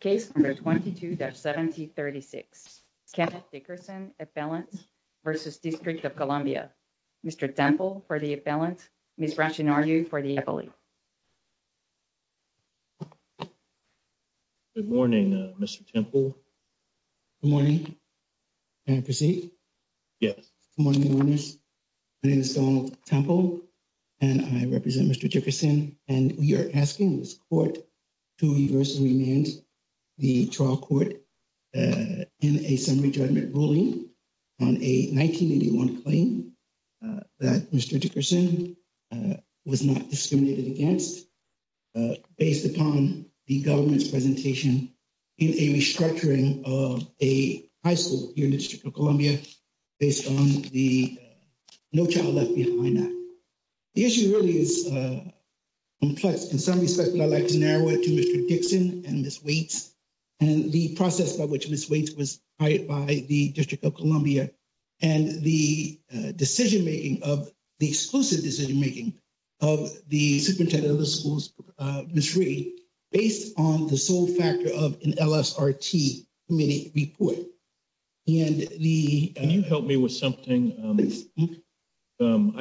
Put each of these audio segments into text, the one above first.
Case number 22-7036. Kenneth Dickerson, appellant versus District of Columbia. Mr. Temple for the appellant. Ms. Ratchanaryu for the appellate. Good morning, Mr. Temple. Good morning. Can I proceed? Yes. Good morning, my name is Donald Temple and I represent Mr. Dickerson and we are asking this court to reverse remand the trial court in a summary judgment ruling on a 1981 claim that Mr. Dickerson was not discriminated against based upon the government's presentation in a restructuring of a high school here in the District of Columbia based on the child left behind that. The issue really is complex in some respects, but I'd like to narrow it to Mr. Dickson and Ms. Waits and the process by which Ms. Waits was hired by the District of Columbia and the decision-making of the exclusive decision-making of the superintendent of the schools, Ms. Reed, based on the sole factor of an LSRT committee report and the... I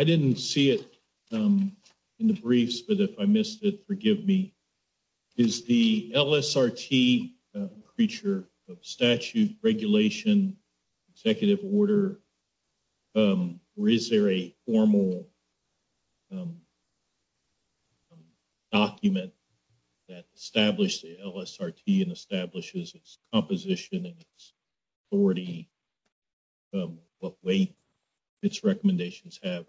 didn't see it in the briefs, but if I missed it, forgive me. Is the LSRT creature of statute, regulation, executive order, or is there a formal document that established the LSRT and establishes its composition and its authority in what way its recommendations have?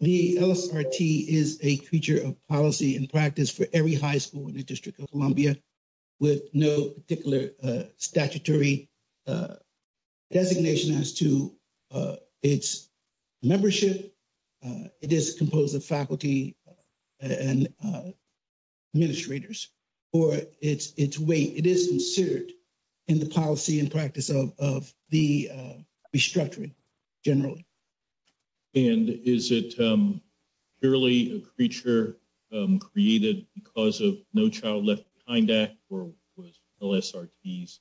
The LSRT is a creature of policy and practice for every high school in the District of Columbia with no particular statutory designation as to its membership. It is composed of faculty and administrators or its weight. It is inserted in the policy and practice of the restructuring generally. And is it purely a creature created because of no child left behind that or was LSRTs,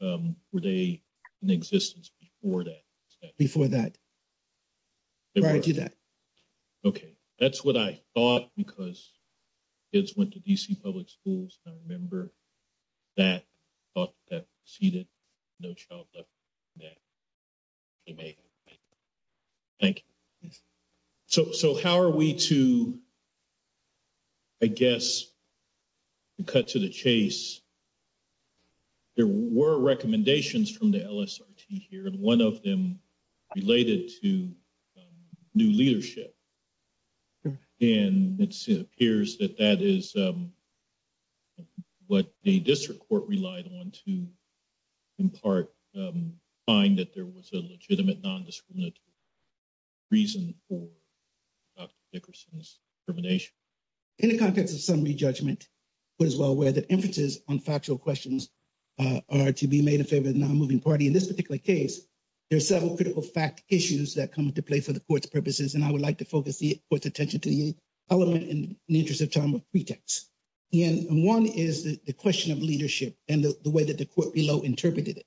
were they in existence before that? Before that, prior to that. Okay. That's what I thought because kids went to DC public schools and I remember that thought that preceded no child left behind. Thank you. So how are we to, I guess, cut to the chase. There were recommendations from the LSRT here and one of them related to new leadership. And it appears that that is what the district court relied on to impart, find that there was a legitimate non-discriminatory reason for Dr. Dickerson's determination. In the context of summary judgment, we're as well aware that inferences on factual questions are to be made in favor of the non-moving party. In this particular case, there are several critical fact issues that come into play for the court's purposes. And I would like to focus the court's attention to the element in the interest of time of pretext. And one is the question of leadership and the way that the court below interpreted it.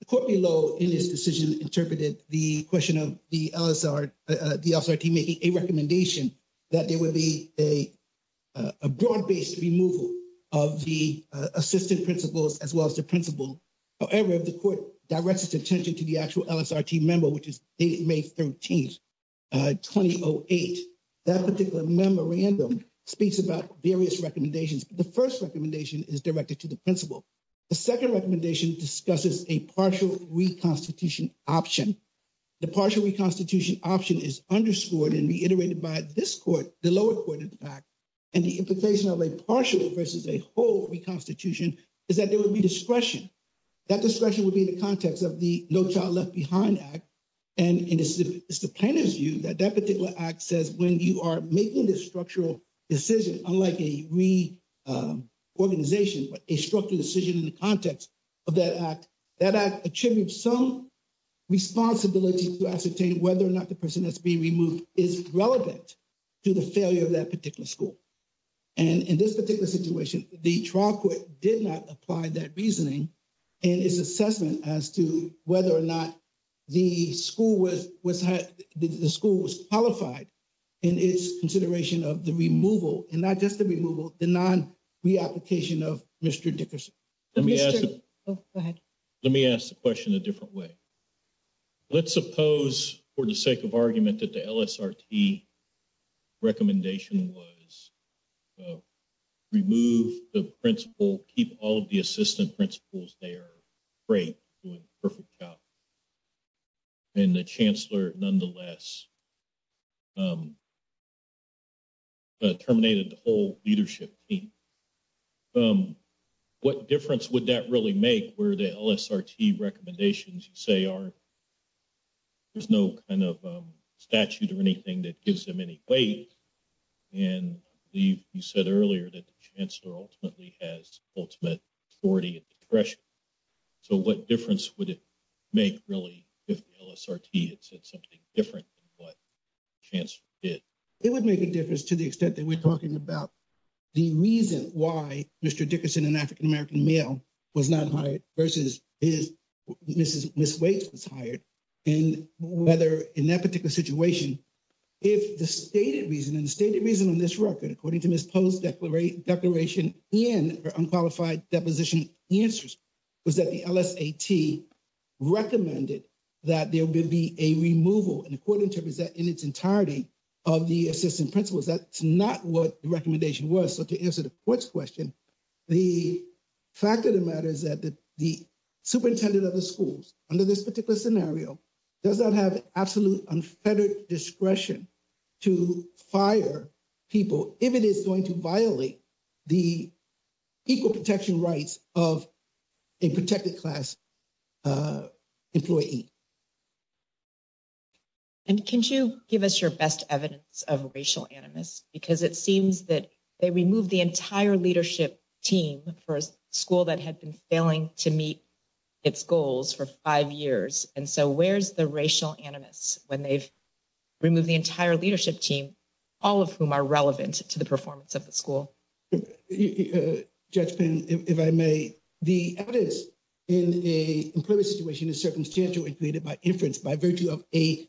The court below in this decision interpreted the question of the LSRT making a recommendation that there would be a broad-based removal of the assistant principals as well as the principal. However, if the court directs its attention to the actual LSRT member, which is dated May 13th, 2008, that particular memorandum speaks about various recommendations. The first recommendation is directed to the principal. The second recommendation discusses a partial reconstitution option. The partial reconstitution option is underscored and reiterated by this court, the lower court in fact, and the partial versus a whole reconstitution is that there would be discretion. That discretion would be in the context of the No Child Left Behind Act. And it's the plaintiff's view that that particular act says when you are making this structural decision, unlike a reorganization, but a structural decision in the context of that act, that act attributes some responsibility to ascertain whether or not the person that's being removed is relevant to the failure of that act. And in this particular situation, the trial court did not apply that reasoning in its assessment as to whether or not the school was qualified in its consideration of the removal, and not just the removal, the non-reapplication of Mr. Dickerson. Let me ask the question a different way. Let's suppose for the sake of argument that the LSRT recommendation was remove the principal, keep all of the assistant principals there, great, doing a perfect job, and the chancellor nonetheless terminated the whole leadership team. What difference would that really make where the LSRT recommendations you say are, there's no kind of statute or anything that gives them any weight. And you said earlier that the chancellor ultimately has ultimate authority and discretion. So what difference would it make really if the LSRT had said something different than what the chancellor did? It would make a difference to the extent that we're talking about the reason why Mr. Dickerson, an African-American male, was not hired versus Mrs. Waits was hired. And whether in that particular situation, if the stated reason, and the stated reason on this record, according to Ms. Poe's declaration in her unqualified deposition answers, was that the LSRT recommended that there will be a removal, and the court interprets that in its entirety, of the assistant principals. That's not what the recommendation was. So to answer the court's question, the fact of the matter is that the superintendent of the schools under this particular scenario does not have absolute unfettered discretion to fire people if it is going to violate the equal protection rights of a protected class employee. And can you give us your best evidence of racial animus? Because it seems that they removed the entire leadership team for a school that had been failing to meet its goals for five years. And so where's the racial animus when they've removed the entire leadership team, all of whom are relevant to the performance of the school? Judge Penn, if I may, the evidence in a employment situation is circumstantial and created by inference by virtue of the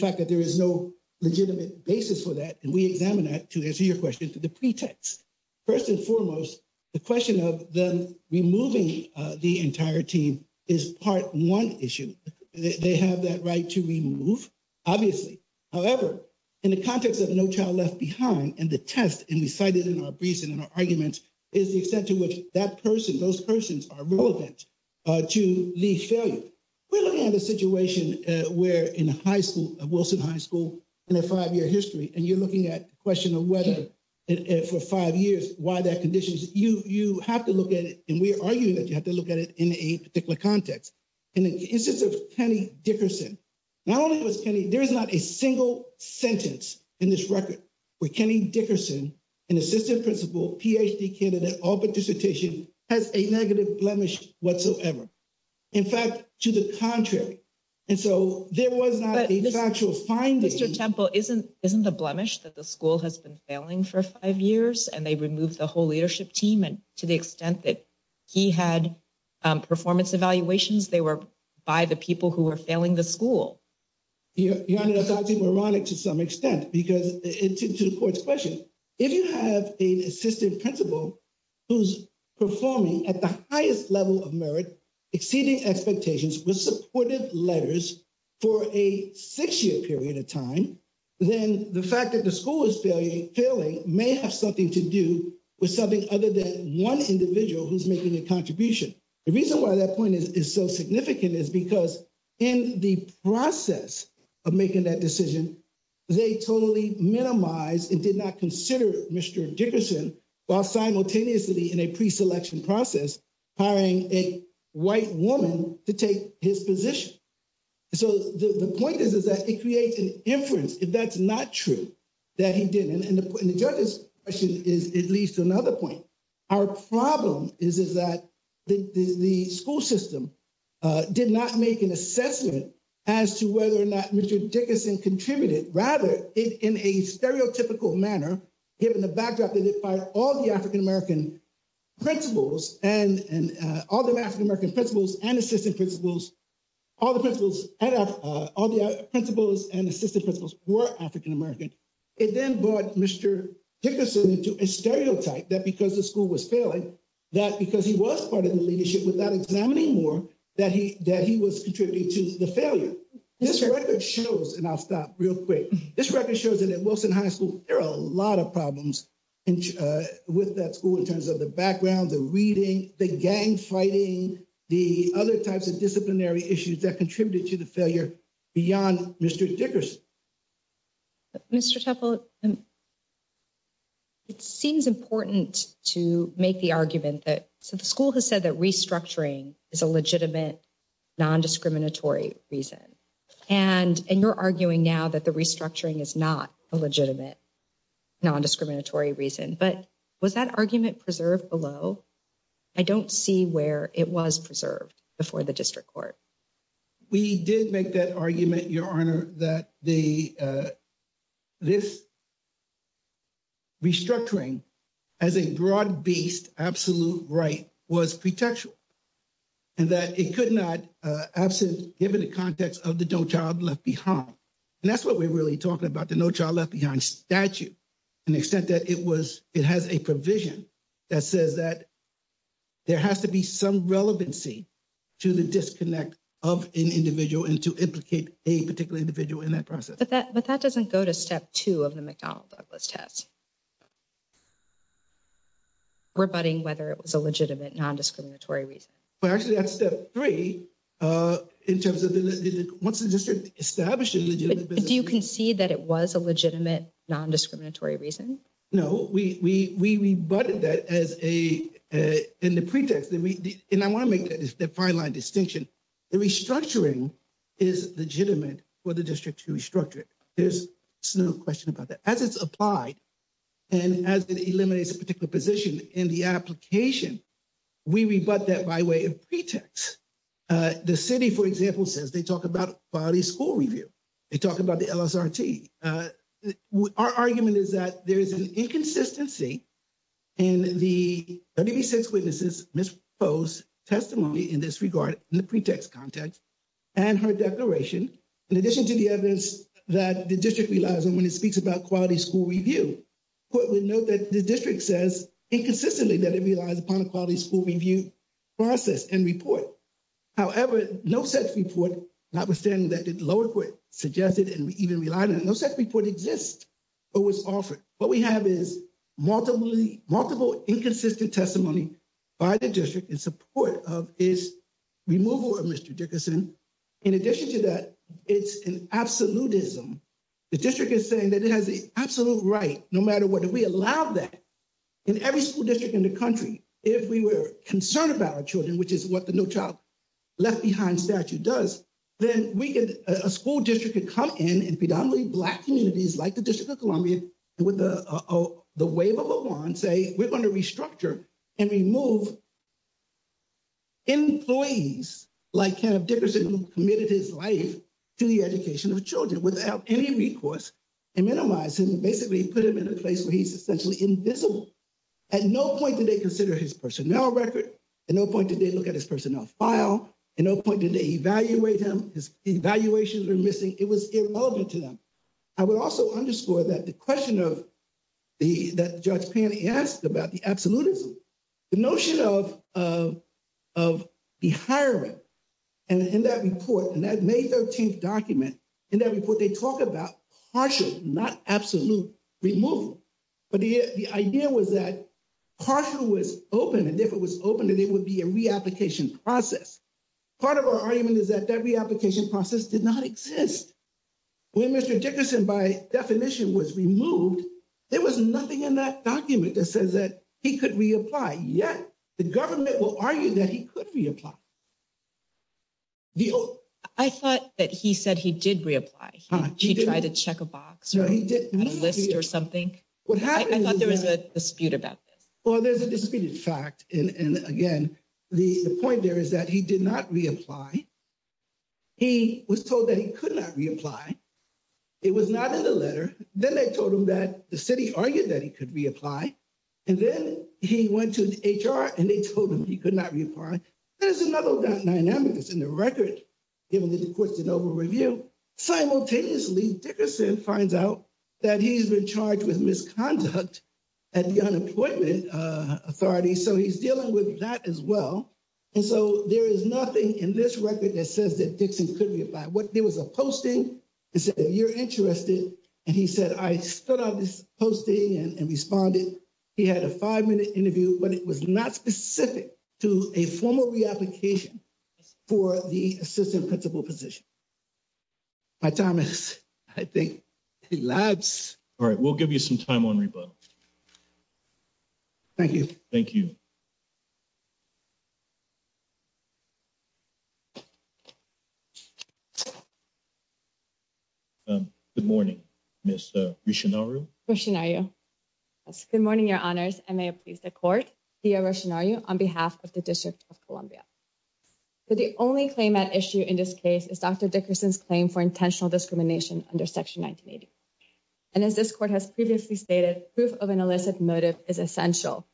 fact that there is no legitimate basis for that. And we examine that, to answer your question, to the pretext. First and foremost, the question of them removing the entire team is part one issue. They have that right to remove, obviously. However, in the context of No Child Left Behind and the test and we cited in our reason and our argument is the extent to which that person, those persons are relevant to leave failure. We're looking at a situation where in a high school, a Wilson High School in a five-year history, and you're looking at the question of whether for five years, why that conditions, you have to look at it. And we are arguing that you have to look at it in a particular context. And in the instance of Kenny Dickerson, not only was Kenny, there is not a single sentence in this record where Kenny Dickerson, an assistant principal, PhD candidate, Auburn dissertation has a negative blemish whatsoever. In fact, to the contrary. And so there was not a factual finding. Mr. Temple, isn't the blemish that the school has been failing for five years and they removed the whole leadership team and to the extent that he had performance evaluations, they were by the people who were failing the school. Your Honor, that's ironic to some extent, because it's to the court's question. If you have an assistant principal who's performing at the highest level of merit, exceeding expectations with supportive letters for a six-year period of time, then the fact that the school is failing may have something to do with something other than one individual who's making a contribution. The reason why that point is so significant is because in the process of making that decision, they totally minimized and did not consider Mr. Dickerson while simultaneously in a pre-selection process hiring a white woman to take his position. So the point is, is that it creates an inference, if that's not true, that he didn't. And the judge's question is, it leads to another point. Our problem is that the school system did not make an assessment as to whether or not Mr. Dickerson contributed. Rather, in a stereotypical manner, given the backdrop that it fired all the African-American principals and all the African-American principals and assistant principals all the principals and assistant principals were African-American, it then brought Mr. Dickerson into a stereotype that because the school was failing, that because he was part of the leadership without examining more, that he was contributing to the failure. This record shows, and I'll stop real quick, this record shows that at Wilson High School, there are a lot of problems with that school in terms of the background, the reading, the gang fighting, the other types of disciplinary issues that contributed to the failure beyond Mr. Dickerson. Mr. Temple, it seems important to make the argument that, so the school has said that restructuring is a legitimate non-discriminatory reason, and you're arguing now that the restructuring is not a legitimate non-discriminatory reason, but was that argument preserved below? I don't see where it was preserved before the district court. We did make that argument, Your Honor, that this restructuring as a broad-based absolute right was pretextual, and that it could not, given the context of the No Child Left Behind, and that's what we're really talking about, the No Child Left Behind statute, and the extent that it was, it has a provision that says that there has to be some relevancy to the disconnect of an individual and to implicate a particular individual in that process. But that doesn't go to step two of the McDonald-Douglas test, rebutting whether it was a legitimate non-discriminatory reason. Well, actually, that's step three in terms of, once the district established a legitimate business. Do you concede that it was a legitimate non-discriminatory reason? No, we rebutted that as a, in the pretext, and I want to make that fine line distinction, the restructuring is legitimate for the district to restructure it. There's no question about that. As it's applied, and as it eliminates a particular position in the application, we rebut that by way of pretext. The city, for example, says they talk about quality school review. They talk about the LSRT. Our argument is that there is an inconsistency in the WB6 witnesses' misposed testimony in this regard, in the pretext context, and her declaration, in addition to the evidence that the district relies on when it speaks about quality school review. But we note that the district says, inconsistently, that it relies upon a quality school review process and report. However, no such report, notwithstanding that the court suggested and even relied on it, no such report exists or was offered. What we have is multiple inconsistent testimony by the district in support of its removal of Mr. Dickerson. In addition to that, it's an absolutism. The district is saying that it has the absolute right, no matter what, if we allow that in every school district in the country, if we were concerned about our children, which is what the No Child Left Behind statute does, then a school district could come in and predominantly Black communities, like the District of Columbia, with the wave of a wand, say, we're going to restructure and remove employees like Kenneth Dickerson who committed his life to the education of children without any recourse and minimize him, basically put him in a place where he's essentially invisible. At no point did they consider his personnel record. At no point did they look at his personnel file. At no point did they evaluate him. His evaluations are missing. It was irrelevant to them. I would also underscore that the question that Judge Pan asked about the absolutism, the notion of the hiring, and in that report, and that May 13th document, in that report, they talk about partial, not absolute removal. But the idea was that partial was open, and if it was open, that it would be a reapplication process. Part of our argument is that that reapplication process did not exist. When Mr. Dickerson, by definition, was removed, there was nothing in that document that says that he could reapply, yet the government will argue that he could reapply. I thought that he said he did reapply. He tried to check a box or a list or something. I thought there was a dispute about this. Well, there's a disputed fact, and again, the point there is that he did not reapply. He was told that he could not reapply. It was not in the letter. Then they told him that the city argued that he could reapply, and then he went to the HR, and they told him he could not reapply. There's another dynamic that's in the record, given that the court's an over-review. Simultaneously, Dickerson finds out that he's been charged with misconduct at the Unemployment Authority, so he's dealing with that as well. There is nothing in this record that says that Dickerson could reapply. There was a posting that said, if you're interested, and he said, I stood on this posting and responded. He had a five-minute interview, but it was not specific to a formal reapplication for the assistant principal position. My time has, I think, elapsed. All right, we'll give you some time on rebuttal. Thank you. Thank you. Good morning, Ms. Rishinaru. Rishinaru, yes. Good morning, Your Honors, and may it please the court, Dia Rishinaru, on behalf of the District of Columbia. The only claim at issue in this case is Dr. Dickerson's claim for intentional discrimination under Section 1980, and as this court has previously stated, proof of an illicit motive is essential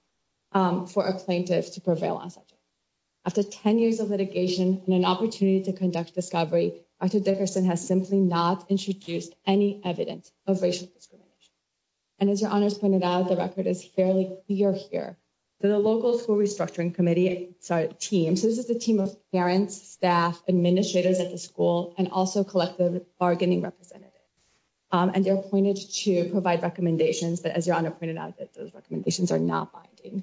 for a plaintiff to prevail on such. After 10 years of litigation and an opportunity to conduct discovery, Dr. Dickerson has simply not introduced any evidence of racial discrimination, and as Your Honors pointed out, the record is fairly clear here. The local school restructuring committee, sorry, team, so this is the team of parents, staff, administrators at the school, and also collective bargaining representatives, and they're appointed to provide recommendations, but as Your Honor pointed out, that those recommendations are not binding.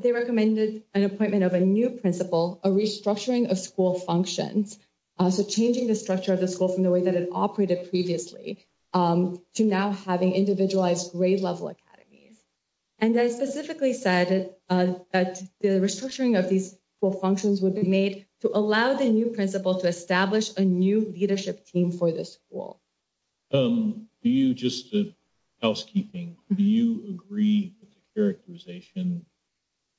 They recommended an appointment of a new principal, a restructuring of school functions, so changing the structure of the school from the way that operated previously to now having individualized grade level academies, and I specifically said that the restructuring of these school functions would be made to allow the new principal to establish a new leadership team for the school. Do you just, housekeeping, do you agree with the characterization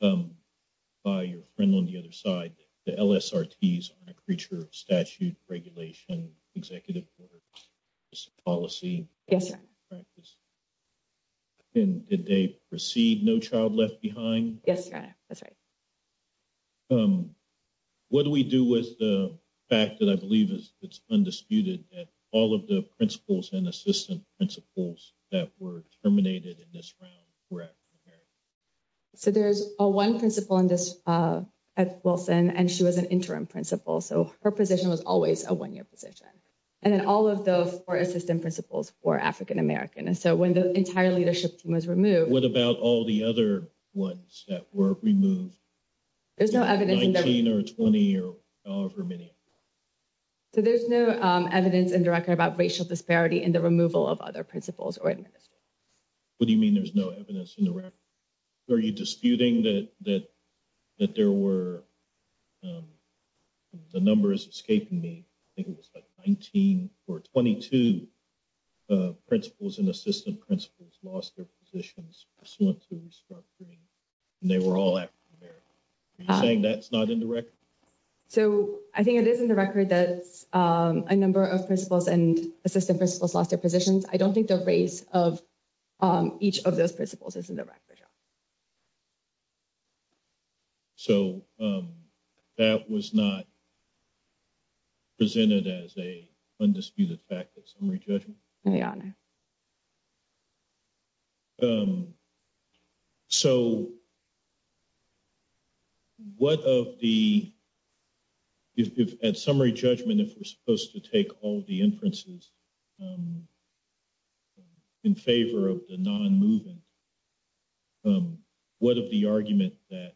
by your friend on the other side, the LSRTs are a creature of statute, regulation, executive order, policy? Yes, Your Honor. And did they proceed no child left behind? Yes, Your Honor, that's right. What do we do with the fact that I believe is it's undisputed that all of the principals and assistant principals that were terminated in this round were at primary? So there's a one principal in this, at Wilson, and she was an interim principal, so her position was always a one-year position, and then all of the four assistant principals were African-American, and so when the entire leadership team was removed, what about all the other ones that were removed? There's no evidence 19 or 20 or however many. So there's no evidence in the record about racial disparity in the removal of other principals or administrators. What do you mean there's no evidence in the record? Are you disputing that there were, the number is escaping me, I think it was like 19 or 22 principals and assistant principals lost their positions pursuant to restructuring, and they were all African-American. Are you saying that's not in the record? So I think it is in the record that a number of principals and assistant principals lost their positions. I don't think the race of each of those principals is in the record. So that was not presented as a undisputed fact at summary judgment? Yeah. So what of the, if at summary judgment if we're supposed to take all the inferences in favor of the non-movement, what of the argument that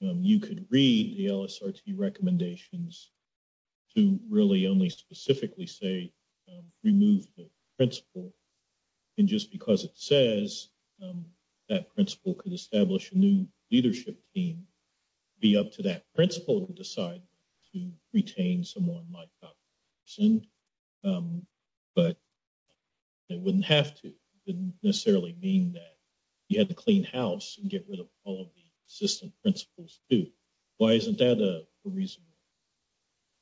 you could read the LSRT recommendations to really only specifically say remove the principal, and just because it says that principal could establish a new leadership team, be up to that principal to decide to retain someone like Dr. Dickerson, but it wouldn't have to necessarily mean that you had to clean house and get rid of all of the assistant principals too. Why isn't that a reasonable?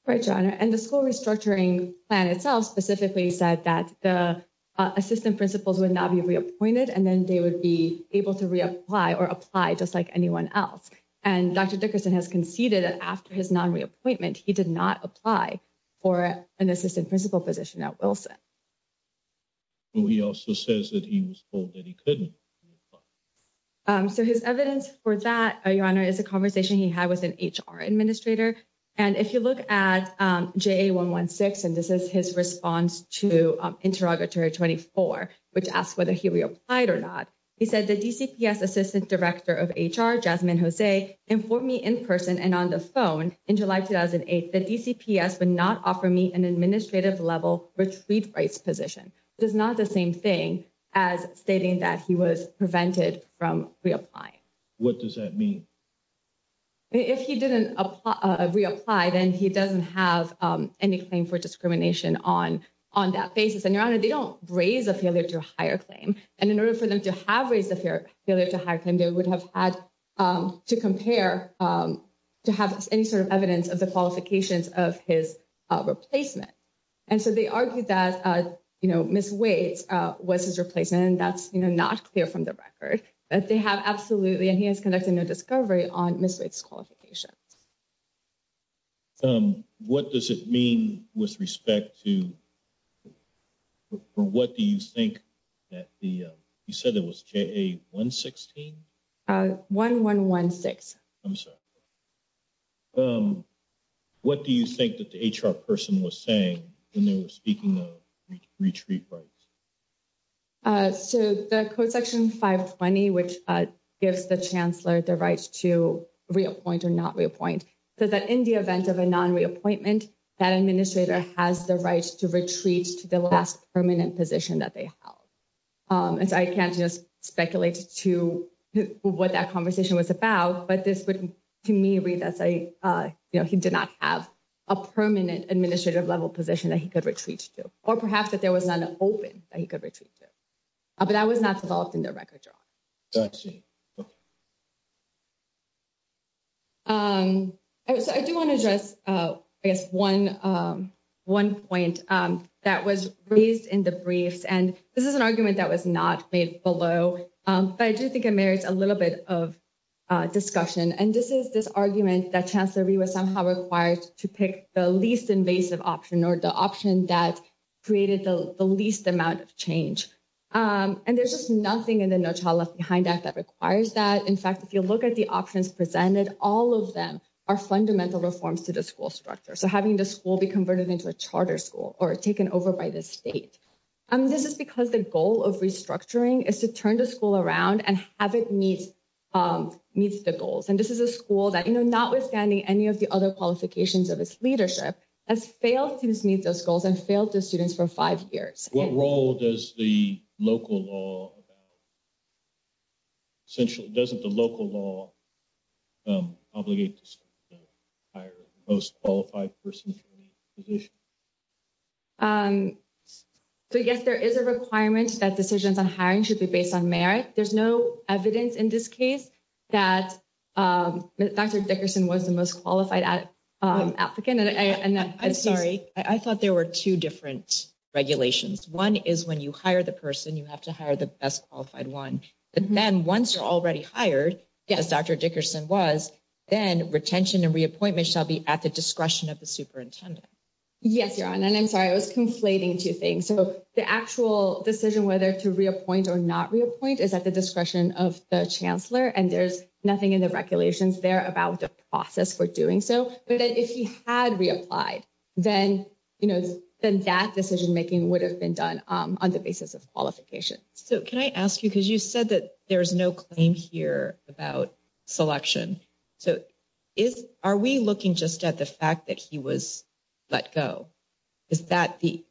Right, John, and the school restructuring plan itself specifically said that the assistant principals would not be reappointed, and then they would be able to reapply or apply just like anyone else, and Dr. Dickerson has conceded that after his non-reappointment, he did not apply for an assistant principal position at Wilson. He also says that he was told that he couldn't. So his evidence for that, your honor, is a conversation he had with an HR administrator, and if you look at JA 116, and this is his response to interrogatory 24, which asked whether he reapplied or not, he said the DCPS assistant director of HR, Jasmine Jose, informed me in person and on the phone in July 2008 that DCPS would not offer me an administrative level retreat rights position, which is not the same thing as stating that he was prevented from reapplying. What does that mean? If he didn't reapply, then he doesn't have any claim for discrimination on that basis, and your honor, they don't raise a failure to hire claim, and in order for them to have raised a failure to hire claim, they would have had to compare to have any sort of evidence of the qualifications of his replacement, and so they argued that, you know, Ms. Wade's was his replacement, and that's, you know, not clear from the record, but they have absolutely, and he to, what do you think that the, you said it was JA 116? 1116. I'm sorry. What do you think that the HR person was saying when they were speaking of retreat rights? So the code section 520, which gives the chancellor the right to reappoint or not reappoint, said that in the event of a non-reappointment, that administrator has the right to retreat to the last permanent position that they held, and so I can't just speculate to what that conversation was about, but this would to me read as a, you know, he did not have a permanent administrative level position that he could retreat to, or perhaps that there was none open that he could in the record drawing. So I do want to address, I guess, one point that was raised in the briefs, and this is an argument that was not made below, but I do think it merits a little bit of discussion, and this is this argument that Chancellor Rhee was somehow required to pick the least invasive option, or the option that created the least amount of change, and there's just nothing in the No Child Left Behind Act that requires that. In fact, if you look at the options presented, all of them are fundamental reforms to the school structure. So having the school be converted into a charter school or taken over by the state, this is because the goal of restructuring is to turn the school around and have it meet the goals, and this is a school that, you know, notwithstanding any of the other qualifications of its leadership, has failed to meet those goals and failed the students for five years. What role does the local law about, essentially, doesn't the local law obligate to hire the most qualified person for the position? So, yes, there is a requirement that decisions on hiring should be based on merit. There's no evidence in this case that Dr. Dickerson was the most qualified applicant. I'm sorry, I thought there were two different regulations. One is when you hire the person, you have to hire the best qualified one, and then once you're already hired, as Dr. Dickerson was, then retention and reappointment shall be at the discretion of the superintendent. Yes, Your Honor, and I'm sorry, I was conflating two things. So the actual decision whether to reappoint or not reappoint is at the discretion of the chancellor, and there's nothing in the then, you know, then that decision making would have been done on the basis of qualification. So can I ask you, because you said that there's no claim here about selection. So are we looking just at the fact that he was let go? Is that the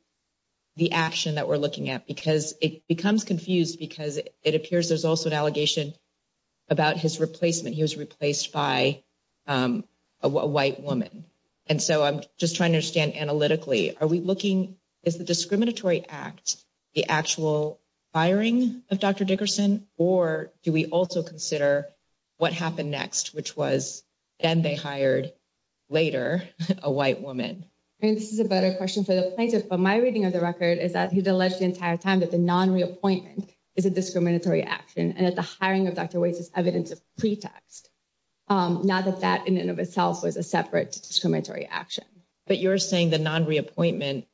action that we're looking at? Because it becomes confused because it appears there's also an allegation about his replacement. He was replaced by a white woman. And so I'm just trying to understand analytically, are we looking, is the discriminatory act the actual firing of Dr. Dickerson, or do we also consider what happened next, which was then they hired later a white woman? And this is a better question for the plaintiff, but my reading of the record is that he's alleged the entire time that the non-reappointment is a discriminatory action and that the hiring of Dr. Dickerson was a separate discriminatory action. But you're saying the non-reappointment,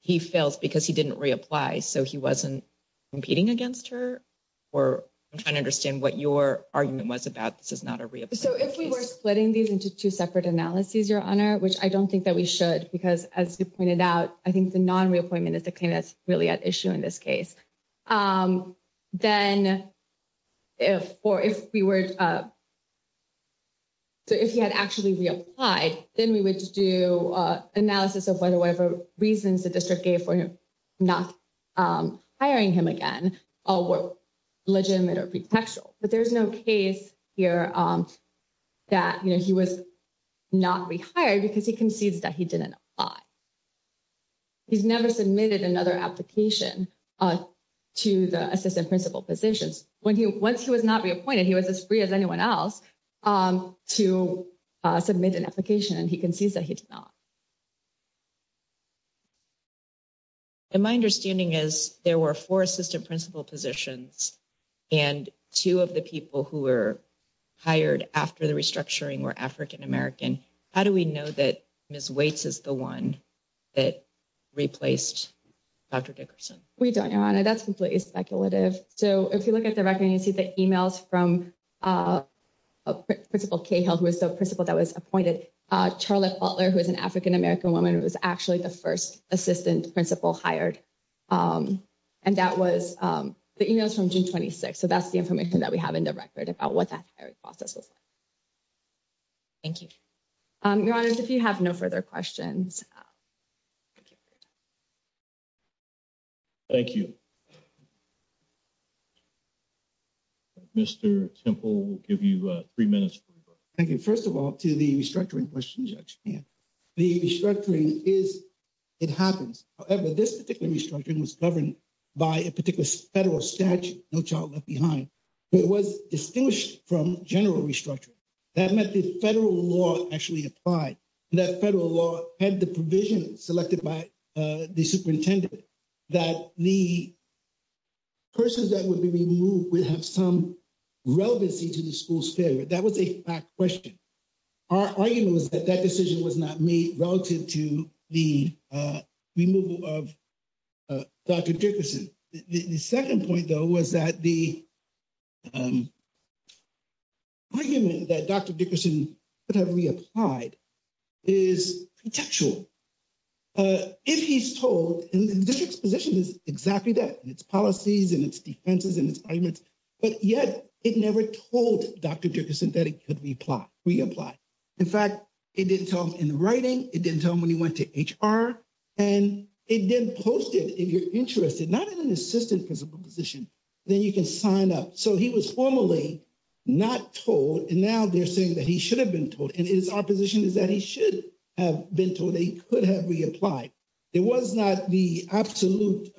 he fails because he didn't reapply. So he wasn't competing against her, or I'm trying to understand what your argument was about. This is not a reappointment. So if we were splitting these into two separate analyses, your honor, which I don't think that we should, because as you pointed out, I think the non-reappointment is the claim that's really at issue in this case. Then if, or if we were, so if he had actually reapplied, then we would do analysis of whether whatever reasons the district gave for him not hiring him again were legitimate or pretextual. But there's no case here that he was not rehired because he concedes that he didn't apply. He's never submitted another application to the assistant principal positions. Once he was not reappointed, he was as free as anyone else to submit an application and he concedes that he did not. And my understanding is there were four assistant principal positions and two of the people who were hired after the restructuring were African-American. How do we know that Ms. Waits is the one that replaced Dr. Dickerson? We don't, your honor. That's completely speculative. So if you look at the record, you see the emails from Principal Cahill, who was the principal that was appointed, Charlotte Butler, who is an African-American woman, who was actually the first assistant principal hired. And that was the emails from June 26th. So that's the information that we have in the record about what that hiring process was like. Thank you. Your honor, if you have no further questions. Thank you. Mr. Temple, we'll give you three minutes. Thank you. First of all, to the restructuring question, the restructuring is, it happens. However, this particular restructuring was governed by a particular federal statute, No Child Left Behind. It was distinguished from general restructuring. That meant the federal law actually applied. That federal law had the provision selected by the superintendent that the persons that would be removed would have some relevancy to the school's failure. That was a fact question. Our argument was that that decision was not made relative to the removal of Dr. Dickerson. The second point, though, was that the argument that Dr. Dickerson could have reapplied is contextual. If he's told, and this exposition is exactly that, and its policies and its defenses and its arguments, but yet it never told Dr. Dickerson that he reapplied. In fact, it didn't tell him in the writing, it didn't tell him when he went to HR, and it didn't post it. If you're interested, not in an assistant principal position, then you can sign up. So he was formally not told, and now they're saying that he should have been told, and it is our position is that he should have been told that he could have reapplied. It was not the absolute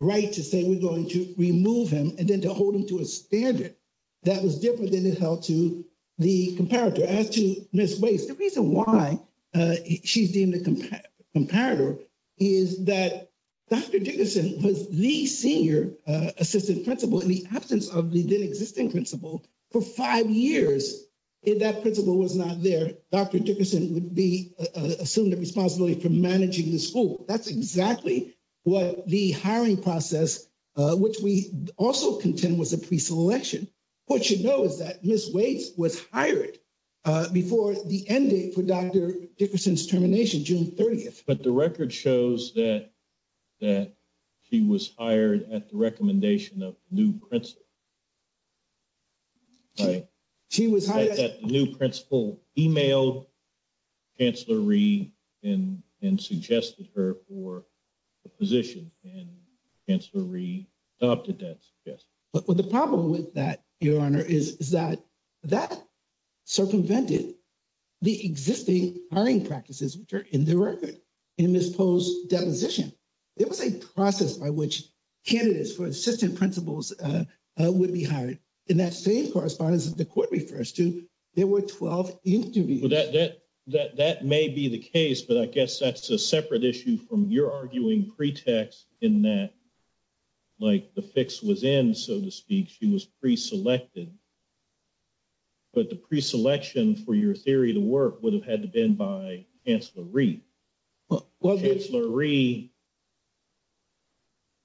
right to say we're going to remove him and then to hold him to a standard. That was different than it held to the comparator. As to Ms. Weiss, the reason why she's deemed a comparator is that Dr. Dickerson was the senior assistant principal in the absence of the then existing principal for five years. If that principal was not there, Dr. Dickerson would be assumed the responsibility for managing the school. That's exactly what the hiring process, which we also contend was a pre-selection. What you know is that Ms. Weiss was hired before the end date for Dr. Dickerson's termination, June 30th. But the record shows that she was hired at the recommendation of the new principal. Right. She was hired. The new principal emailed Chancellor Rhee and suggested her for a position, and Chancellor Rhee adopted that suggestion. Well, the problem with that, Your Honor, is that that circumvented the existing hiring practices, which are in the record in this post-deposition. There was a process by which candidates for assistant principals would be hired, and that same correspondence that the court refers to, there were 12 interviews. That may be the case, but I guess that's a separate issue from your arguing pretext in that like the fix was in, so to speak, she was pre-selected. But the pre-selection for your theory to work would have had to been by Chancellor Rhee. Well, Chancellor Rhee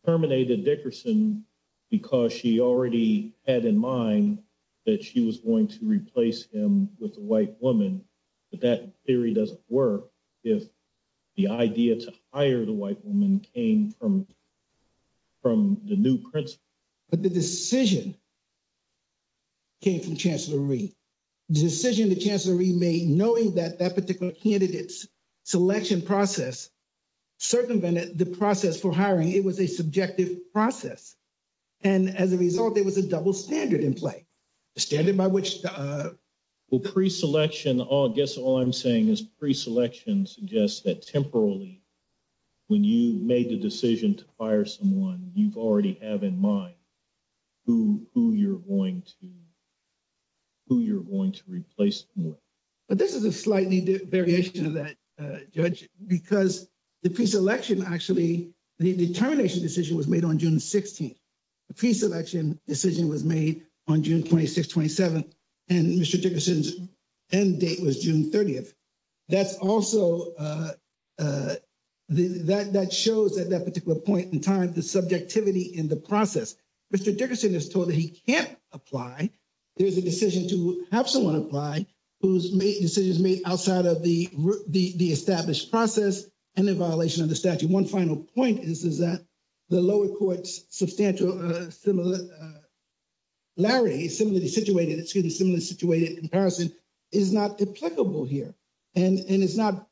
terminated Dickerson because she already had in mind that she was going to replace him with a white woman, but that theory doesn't work if the idea to hire the white woman came from the new principal. But the decision came from Chancellor Rhee. The decision that Chancellor Rhee made, knowing that that particular candidate's selection process circumvented the process for hiring, it was a subjective process. And as a result, there was a double standard in play, a standard by which... Well, pre-selection, I guess all I'm saying is pre-selection suggests that temporarily, when you made the decision to hire someone, you already have in mind who you're going to, who you're going to replace more. But this is a slightly variation of that, Judge, because the pre-selection actually, the determination decision was made on June 16th. The pre-selection decision was made on June 26th, 27th, and Mr. Dickerson's end date was June 30th. That's also, that shows at that particular point in time, the subjectivity in the process. Mr. Dickerson is told that he can't apply. There's a decision to have someone apply, whose decision is made outside of the established process and in violation of the statute. One final point is that the lower court's substantial similarity, similarity situated, excuse me, similarity situated comparison is not applicable here. And it's not,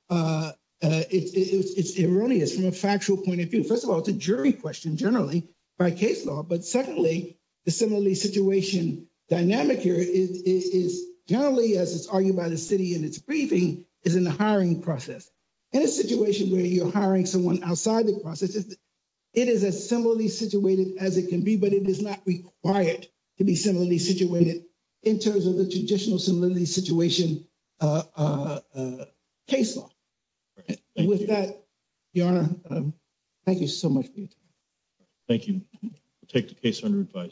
it's erroneous from a factual point of view. First of all, it's a jury question generally by case law. But secondly, the similarity situation dynamic here is generally, as it's argued by the city in its briefing, is in the hiring process. In a situation where you're hiring someone outside the process, it is as similarly situated as it can be, but it is not required to be similarly situated in terms of the traditional similarity situation case law. With that, Your Honor, thank you so much for your time. Thank you. We'll take the case under advice.